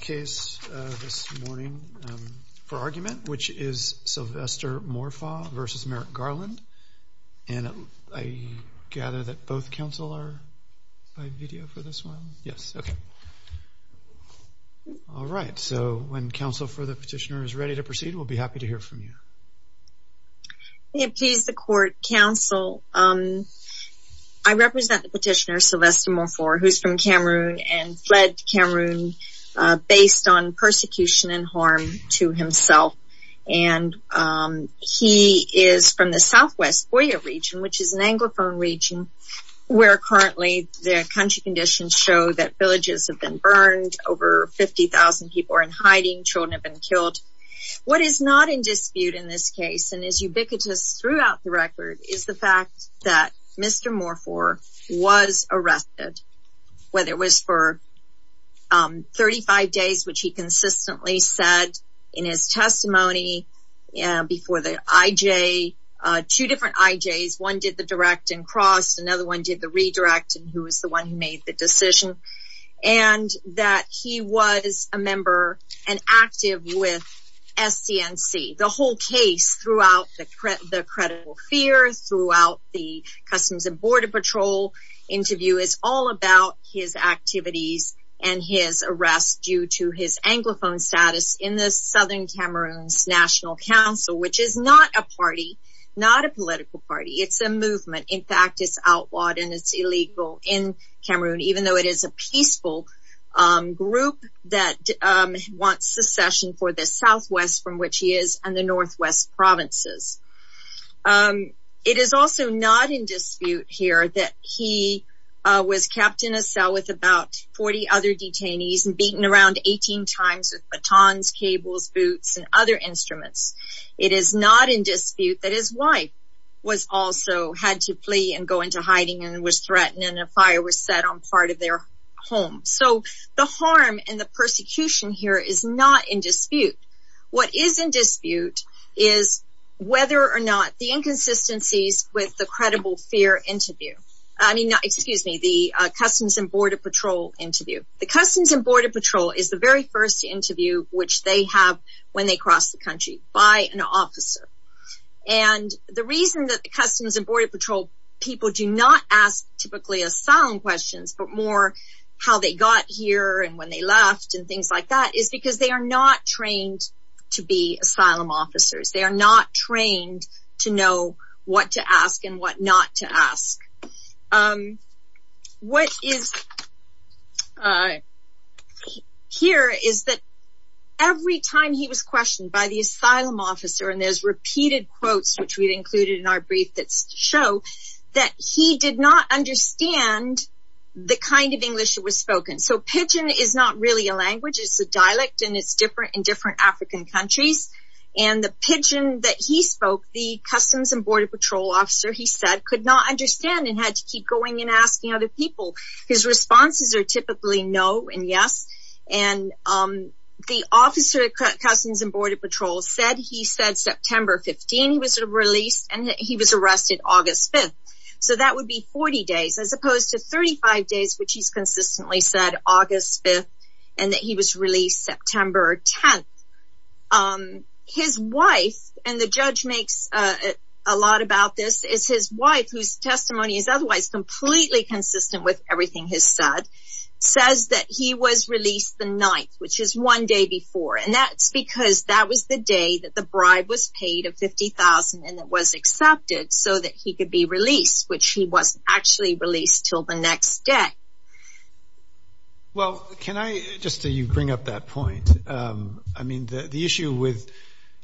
case this morning for argument which is Sylvester Morfaw versus Merrick Garland and I gather that both counsel are by video for this one yes okay all right so when counsel for the petitioner is ready to proceed we'll be happy to hear from you please the court counsel I represent the petitioner Sylvester Morfaw who's from Cameroon and fled Cameroon based on persecution and harm to himself and he is from the southwest Boya region which is an anglophone region where currently their country conditions show that villages have been burned over 50,000 people are in hiding children have been killed what is not in dispute in this case and is ubiquitous throughout the record is the fact that mr. Morfaw was arrested whether it was for 35 days which he consistently said in his testimony before the IJ two different IJs one did the direct and crossed another one did the redirect and who was the one who made the decision and that he was a member and active with SDNC the whole case throughout the credible fear throughout the Customs and Border Patrol interview is all about his activities and his arrest due to his anglophone status in the southern Cameroon's National Council which is not a party not a political party it's a movement in fact it's outlawed and it's illegal in Cameroon even though it is a peaceful group that wants secession for the southwest from which he is and the it is also not in dispute here that he was kept in a cell with about 40 other detainees and beaten around 18 times with batons cables boots and other instruments it is not in dispute that his wife was also had to flee and go into hiding and was threatened and a fire was set on part of their home so the harm and the persecution here is not in dispute what is in dispute is whether or not the inconsistencies with the credible fear interview I mean excuse me the Customs and Border Patrol interview the Customs and Border Patrol is the very first interview which they have when they cross the country by an officer and the reason that the Customs and Border Patrol people do not ask typically asylum questions but more how they got here and when they left and things like that is because they are not trained to be asylum officers they are not trained to know what to ask and what not to ask what is here is that every time he was questioned by the asylum officer and there's repeated quotes which we've included in our brief that's to show that he did not understand the kind of English it was spoken so pigeon is not really a language it's a dialect and it's different in different African countries and the pigeon that he spoke the Customs and Border Patrol officer he said could not understand and had to keep going and asking other people his responses are typically no and yes and the officer at Customs and Border Patrol said he said September 15 he was released and he was arrested August 5th so that would be 40 days as opposed to 35 days which he's consistently said August 5th and that he was released September 10th his wife and the judge makes a lot about this is his wife whose testimony is otherwise completely consistent with everything has said says that he was released the night which is one day before and that's because that was the day that the bribe was paid of 50,000 and that was accepted so that he could be released which he was actually released till the next day well can I just do you bring up that point I mean the issue with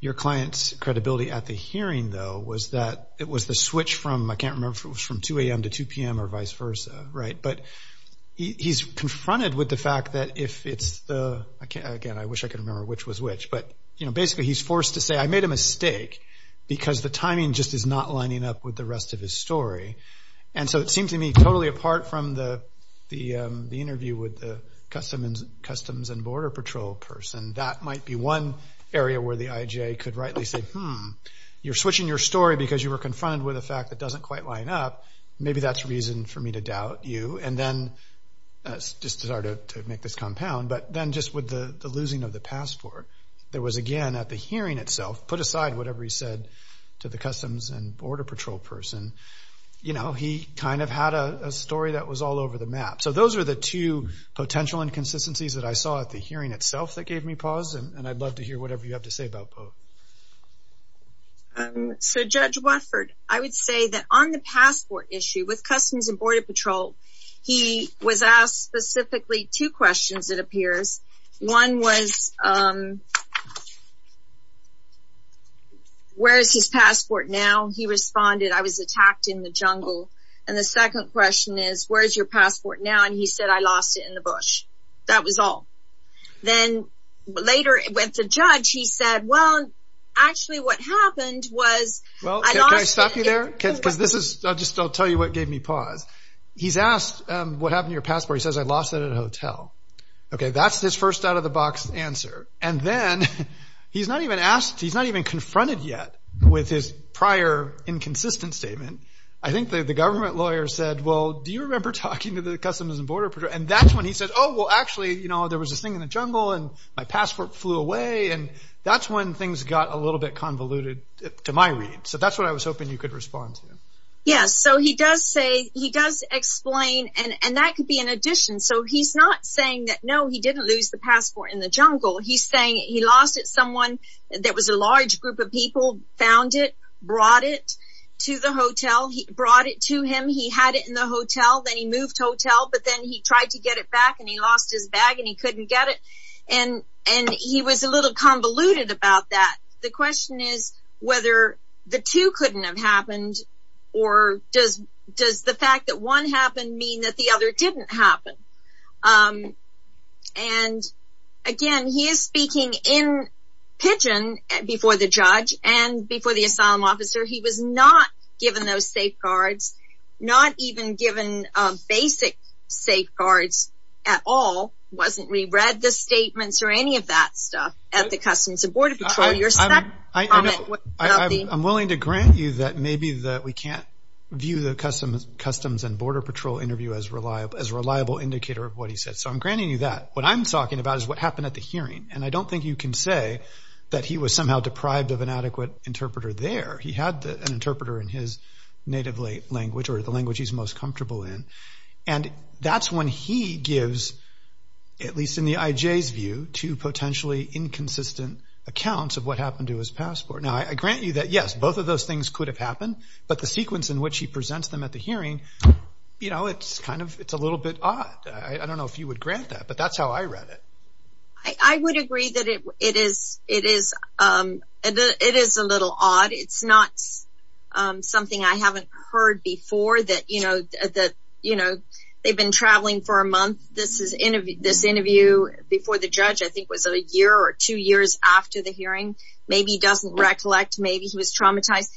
your clients credibility at the hearing though was that it was the switch from I can't remember from 2 a.m. to 2 p.m. or vice versa right but he's confronted with the fact that if it's the again I wish I could remember which was which but you know basically he's forced to say I made a mistake because the timing just is not lining up with the rest of his story and so it seemed to me totally apart from the the Customs and Border Patrol person that might be one area where the IJ could rightly say hmm you're switching your story because you were confronted with a fact that doesn't quite line up maybe that's reason for me to doubt you and then just started to make this compound but then just with the losing of the passport there was again at the hearing itself put aside whatever he said to the Customs and Border Patrol person you know he kind of had a story that was all over the map so those are the two potential inconsistencies that I saw at the hearing itself that gave me pause and I'd love to hear whatever you have to say about both so Judge Watford I would say that on the passport issue with Customs and Border Patrol he was asked specifically two questions it appears one was where is his passport now he responded I was attacked in the passport now and he said I lost it in the bush that was all then later it went to judge he said well actually what happened was well I stopped you there because this is just I'll tell you what gave me pause he's asked what happened your passport he says I lost it at a hotel okay that's his first out-of-the-box answer and then he's not even asked he's not even confronted yet with his prior inconsistent statement I think the government lawyer said well do you remember talking to the Customs and Border Patrol and that's when he said oh well actually you know there was a thing in the jungle and my passport flew away and that's when things got a little bit convoluted to my read so that's what I was hoping you could respond to yes so he does say he does explain and and that could be an addition so he's not saying that no he didn't lose the passport in the jungle he's saying he lost it someone there was a large group of people found it brought it to the hotel he brought it to him he had it in the and he moved hotel but then he tried to get it back and he lost his bag and he couldn't get it and and he was a little convoluted about that the question is whether the two couldn't have happened or does does the fact that one happened mean that the other didn't happen and again he is speaking in pigeon before the judge and before the asylum officer he was not given those safeguards not even given basic safeguards at all wasn't we read the statements or any of that stuff at the Customs and Border Patrol your side I'm willing to grant you that maybe that we can't view the customs customs and Border Patrol interview as reliable as a reliable indicator of what he said so I'm granting you that what I'm talking about is what happened at the hearing and I don't think you can say that he was somehow deprived of an adequate interpreter there he had an interpreter in his native language or the language he's most comfortable in and that's when he gives at least in the IJ's view to potentially inconsistent accounts of what happened to his passport now I grant you that yes both of those things could have happened but the sequence in which he presents them at the hearing you know it's kind of it's a little bit odd I don't know if you would grant that but that's how I read it I would agree that it it is it is it is a little odd it's not something I haven't heard before that you know that you know they've been traveling for a month this is in this interview before the judge I think was a year or two years after the hearing maybe doesn't recollect maybe he was traumatized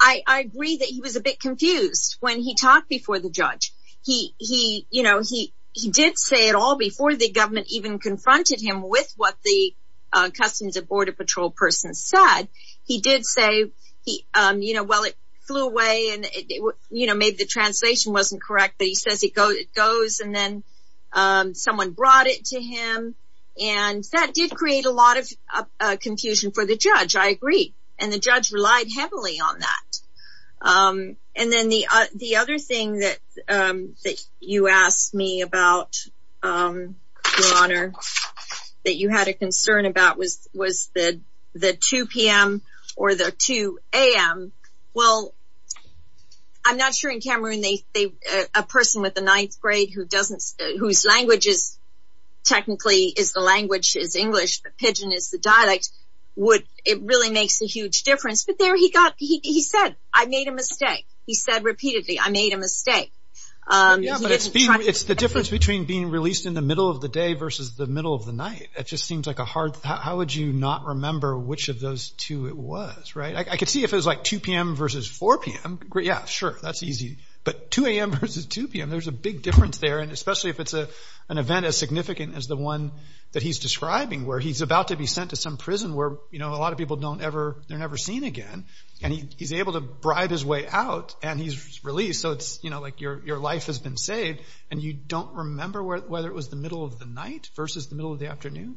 I I agree that he was a bit confused when he talked before the judge he he you know he he did say it all before the government even confronted him with what the Customs and you know maybe the translation wasn't correct but he says he goes it goes and then someone brought it to him and that did create a lot of confusion for the judge I agree and the judge relied heavily on that and then the the other thing that that you asked me about your honor that you had a concern about was the the 2 p.m. or the 2 a.m. well I'm not sure in Cameroon they a person with the ninth grade who doesn't whose language is technically is the language is English the pigeon is the dialect would it really makes a huge difference but there he got he said I made a mistake he said repeatedly I made a mistake it's the difference between being released in the middle of the day versus the middle of the night it just seems like a hard how would you not remember which of those two it was right I could see if it was like 2 p.m. versus 4 p.m. yeah sure that's easy but 2 a.m. versus 2 p.m. there's a big difference there and especially if it's a an event as significant as the one that he's describing where he's about to be sent to some prison where you know a lot of people don't ever they're never seen again and he's able to bribe his way out and he's released so it's you know like your your life has been saved and you don't remember whether it was the middle of the night versus the middle of the afternoon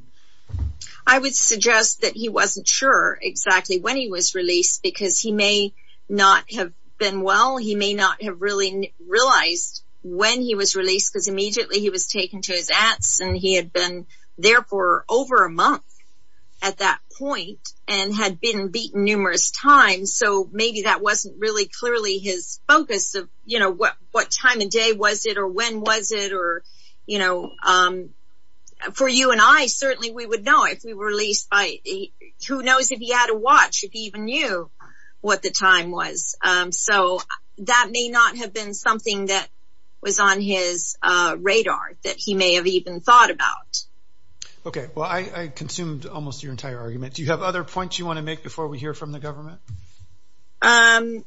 I would suggest that he wasn't sure exactly when he was released because he may not have been well he may not have really realized when he was released because immediately he was taken to his aunts and he had been there for over a month at that point and had been beaten numerous times so maybe that wasn't really clearly his focus of you know what what time of day was it or when was it or you know for you and I certainly we would know if we were released by who knows if he had a watch if he even knew what the time was so that may not have been something that was on his radar that he may have even thought about okay well I consumed almost your entire argument do you have other points you want to make before we hear from the government um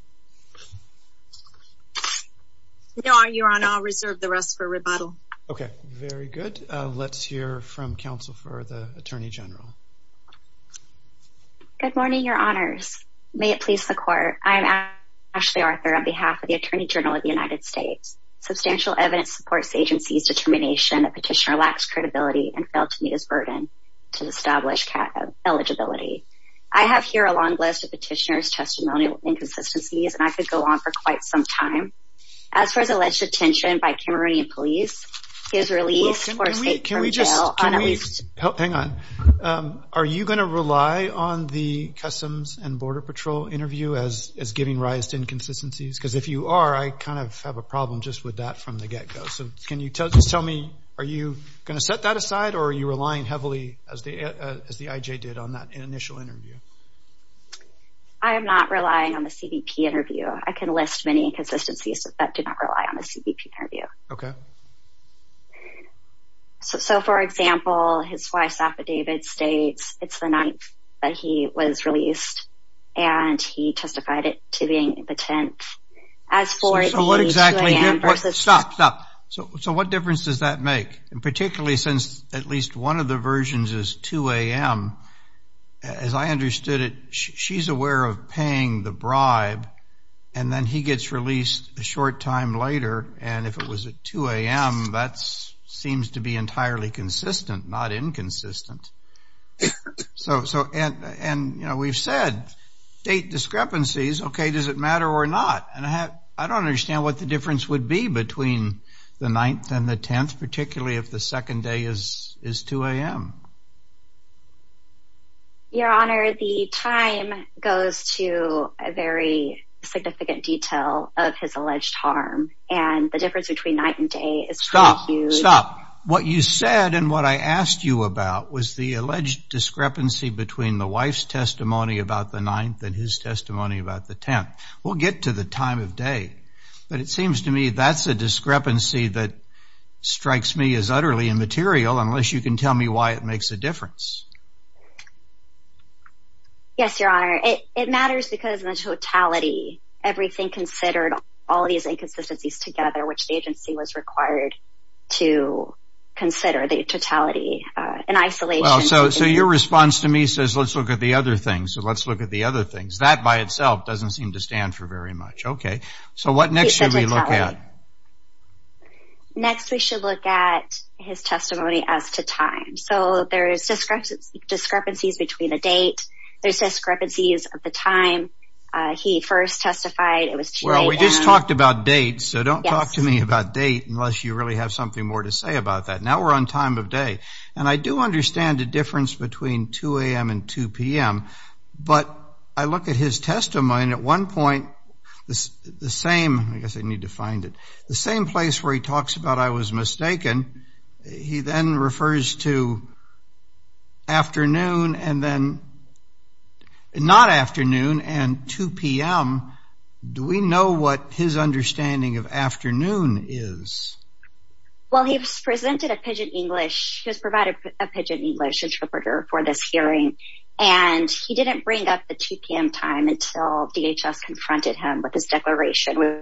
no I you're on I'll reserve the rest for rebuttal okay very good let's hear from counsel for the Attorney General good morning your honors may it please the court I'm Ashley Arthur on behalf of the Attorney General of the United States substantial evidence supports agency's determination a petitioner lacks credibility and felt to meet his burden to establish eligibility I have here a long list of petitioners testimonial inconsistencies and I could go on for by Cameroonian police is released can we just help hang on are you gonna rely on the Customs and Border Patrol interview as is giving rise to inconsistencies because if you are I kind of have a problem just with that from the get-go so can you tell just tell me are you gonna set that aside or are you relying heavily as the as the IJ did on that initial interview I am NOT relying on the CBP interview I can list many inconsistencies that did not rely on the CBP interview okay so for example his wife's affidavit states it's the night that he was released and he testified it to being impotent as for what exactly and what stops up so what difference does that make and particularly since at least one of the versions is 2 a.m. as I understood it she's aware of paying the bribe and then he gets released a short time later and if it was a 2 a.m. that's seems to be entirely consistent not inconsistent so so and and you know we've said date discrepancies okay does it matter or not and I have I don't understand what the difference would be between the 9th and the 10th particularly if the second day is is 2 a.m. your honor the time goes to a very significant detail of his alleged harm and the difference between night and day is stop stop what you said and what I asked you about was the alleged discrepancy between the wife's testimony about the 9th and his testimony about the 10th we'll get to the time of day but it seems to me that's a discrepancy that strikes me as utterly immaterial unless you can tell me why it makes a difference yes your honor it matters because the totality everything considered all these inconsistencies together which the agency was required to consider the totality in isolation so so your response to me says let's look at the other things so let's look at the other things that by itself doesn't seem to stand for very much okay so what next should we look at next we should look at his testimony as to time so there is discrepancy discrepancies between the date there's discrepancies of the time he first testified it was well we just talked about dates so don't talk to me about date unless you really have something more to say about that now we're on time of day and I do understand the difference between 2 a.m. and 2 p.m. but I look at his testimony at one point the same I guess I need to find it the same place where he talks about I was mistaken he then refers to afternoon and then not afternoon and 2 p.m. do we know what his understanding of afternoon is well he presented a pidgin English has provided a pidgin English interpreter for this hearing and he didn't bring up the 2 p.m. time until DHS confronted him with his declaration with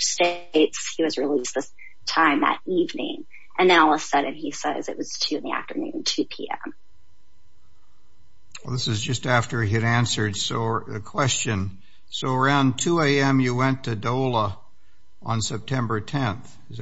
states he was released this time that evening and Alice said and he says it was 2 in the afternoon 2 p.m. well this is just after he had answered so a question so around 2 a.m. you went to Dola on September 10th his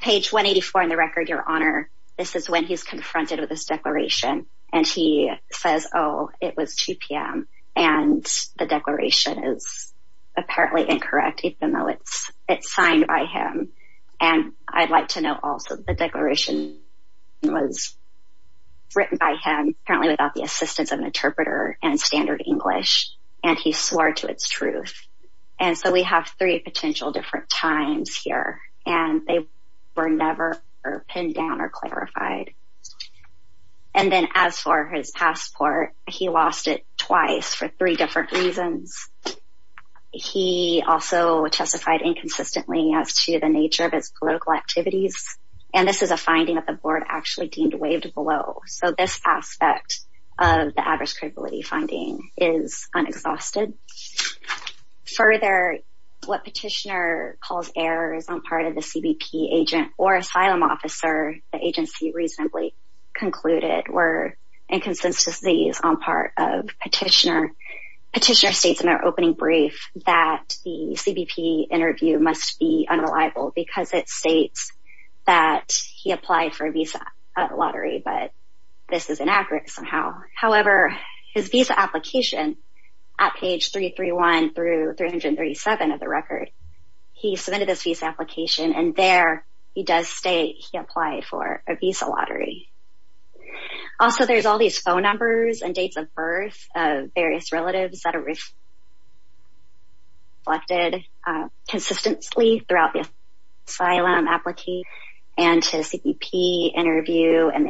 page 184 in the record your honor this is when he's confronted with this declaration and he says oh it was 2 p.m. and the declaration is apparently incorrect even though it's it's signed by him and I'd like to know also the declaration was written by him apparently without the assistance of an interpreter and standard English and he swore to its truth and so we have three potential different times here and they were never pinned down or clarified and then as for his passport he lost it twice for three different reasons he also testified inconsistently as to the nature of its political activities and this is a finding of the board actually deemed waived below so this aspect of calls errors on part of the CBP agent or asylum officer the agency reasonably concluded were inconsistency is on part of petitioner petitioner states in our opening brief that the CBP interview must be unreliable because it states that he applied for a visa lottery but this is inaccurate somehow however his application at page 331 through 337 of the record he submitted his visa application and there he does state he applied for a visa lottery also there's all these phone numbers and dates of birth of various relatives that are reflected consistently throughout the asylum appliquee and CBP interview and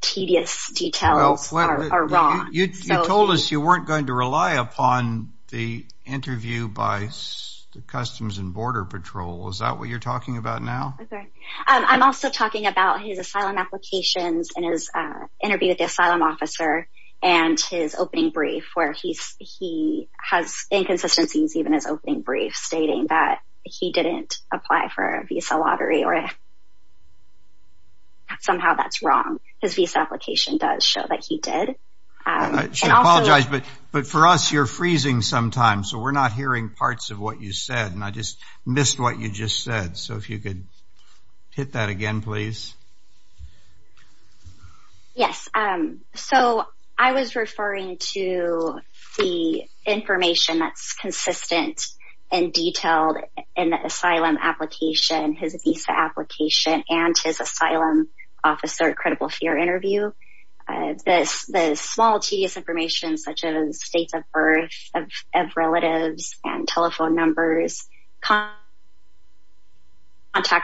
tedious details you told us you weren't going to rely upon the interview by the Customs and Border Patrol is that what you're talking about now I'm also talking about his asylum applications and his interview with the asylum officer and his opening brief where he's he has inconsistencies even as opening brief stating that he didn't apply for a visa lottery or somehow that's wrong his visa application does show that he did apologize but but for us you're freezing sometimes so we're not hearing parts of what you said and I just missed what you just said so if you could hit that again please yes um so I was detailed in the asylum application his visa application and his asylum officer credible fear interview this the small tedious information such as states of birth of relatives and telephone numbers contact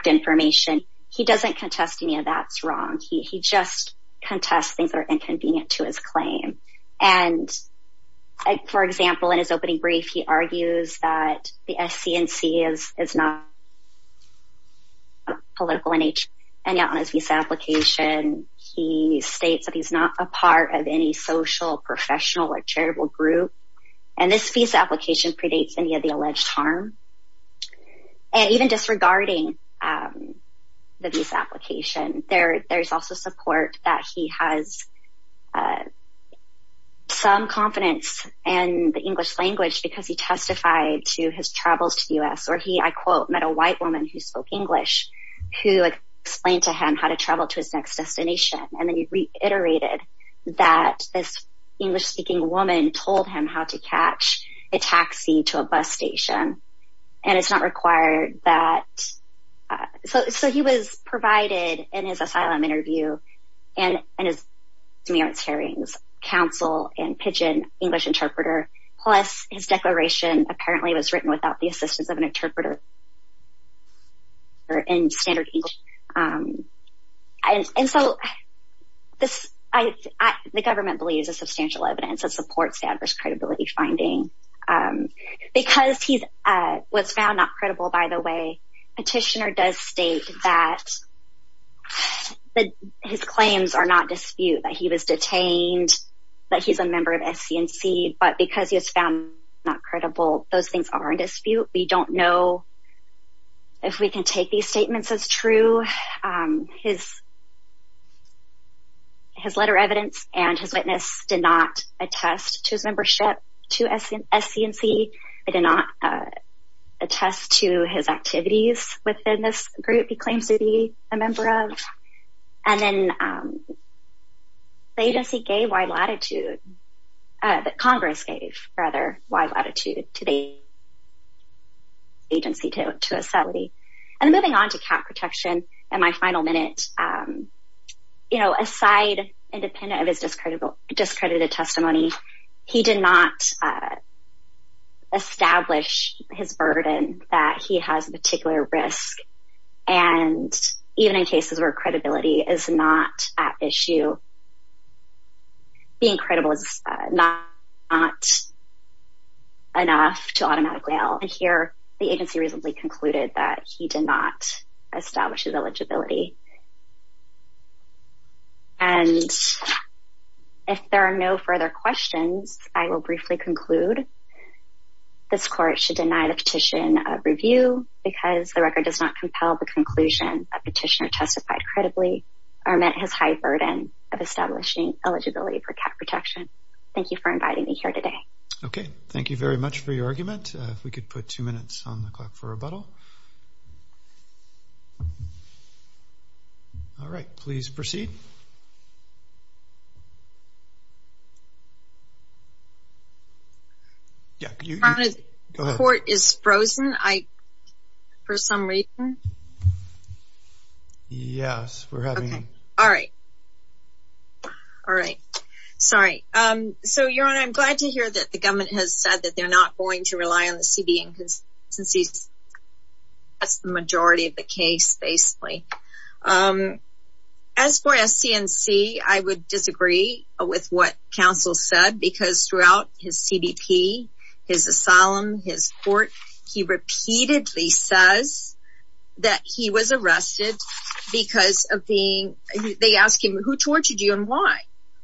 information he doesn't contest any of that's wrong he just contests things that are inconvenient to his the SCNC is it's not political in each and on his visa application he states that he's not a part of any social professional or charitable group and this visa application predates any of the alleged harm and even disregarding the visa application there there's also support that he has some confidence and the English language because he testified to his travels to the US or he I quote met a white woman who spoke English who explained to him how to travel to his next destination and then he reiterated that this English-speaking woman told him how to catch a taxi to a bus station and it's not required that so so he was provided in his asylum interview and and his merits hearings counsel and pigeon English interpreter plus his declaration apparently was written without the assistance of an interpreter or in standard English and so this I the government believes a substantial evidence that supports adverse credibility finding because he's what's found not credible by the way petitioner does state that but his claims are not dispute that he was detained but he's a member of SCNC but because he has found not credible those things are in dispute we don't know if we can take these statements as true his his letter evidence and his witness did not attest to his membership to SCNC I did not attest to his activities within this group he claims to be a agency gave wide latitude that Congress gave rather wide latitude today agency to to a salary and moving on to cap protection and my final minute you know aside independent of his discreditable discredited testimony he did not establish his burden that he has a particular risk and even in cases where credibility is not at issue incredible it's not enough to automatically out here the agency recently concluded that he did not establish his eligibility and if there are no further questions I will briefly conclude this court should deny the petition review because the record does not compel the conclusion petitioner credibly and that has high burden of establishing eligibility for cap protection thank you for inviting me here today ok thank you very much for your argument we could put two minutes on the clock for yes we're having all right all right sorry I'm so you're on I'm glad to hear that the government has said that they're not going to rely on the CD inconsistencies that's the majority of the case basically as for SCNC I would disagree with what counsel said because throughout his CDP his asylum his court he repeatedly says that he was arrested because of being they ask him who tortured you and why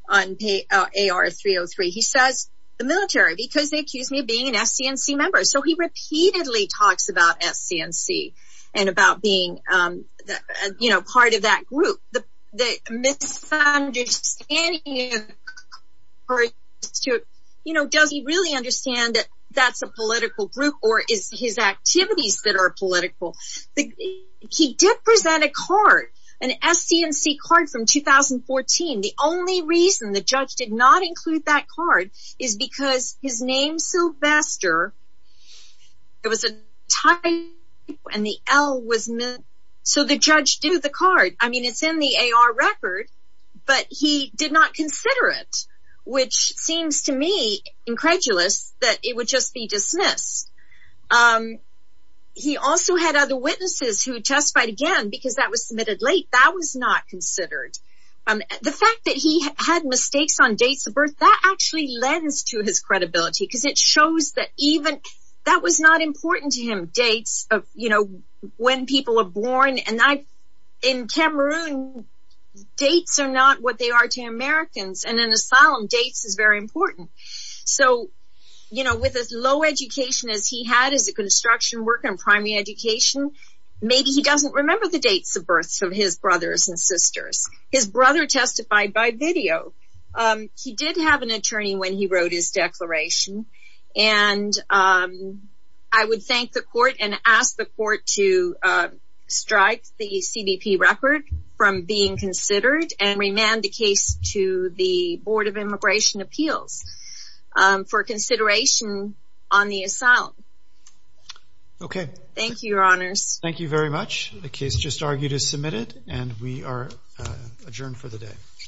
on pay our 303 he says the military because they accuse me of being an SCNC member so he repeatedly talks about SCNC and about being that you know part of that group the misunderstanding you know does he really understand that that's a political group or is his activities that are political he did present a card an SCNC card from 2014 the only reason the judge did not include that card is because his name Sylvester it was a time when the L was meant so the judge do the card I mean it's in the AR record but he did not consider it which seems to me incredulous that it would just be dismissed he also had other witnesses who testified again because that was submitted late that was not considered the fact that he had mistakes on dates of birth that actually lends to his credibility because it shows that even that was not important to him dates of you know when people are born and I in dates are not what they are to Americans and an asylum dates is very important so you know with as low education as he had is a construction work and primary education maybe he doesn't remember the dates of birth of his brothers and sisters his brother testified by video he did have an attorney when he wrote his declaration and I would thank the court and ask the court to strike the from being considered and remanded case to the Board of Immigration Appeals for consideration on the asylum okay thank you your honors thank you very much the case just argued is submitted and we are adjourned for the day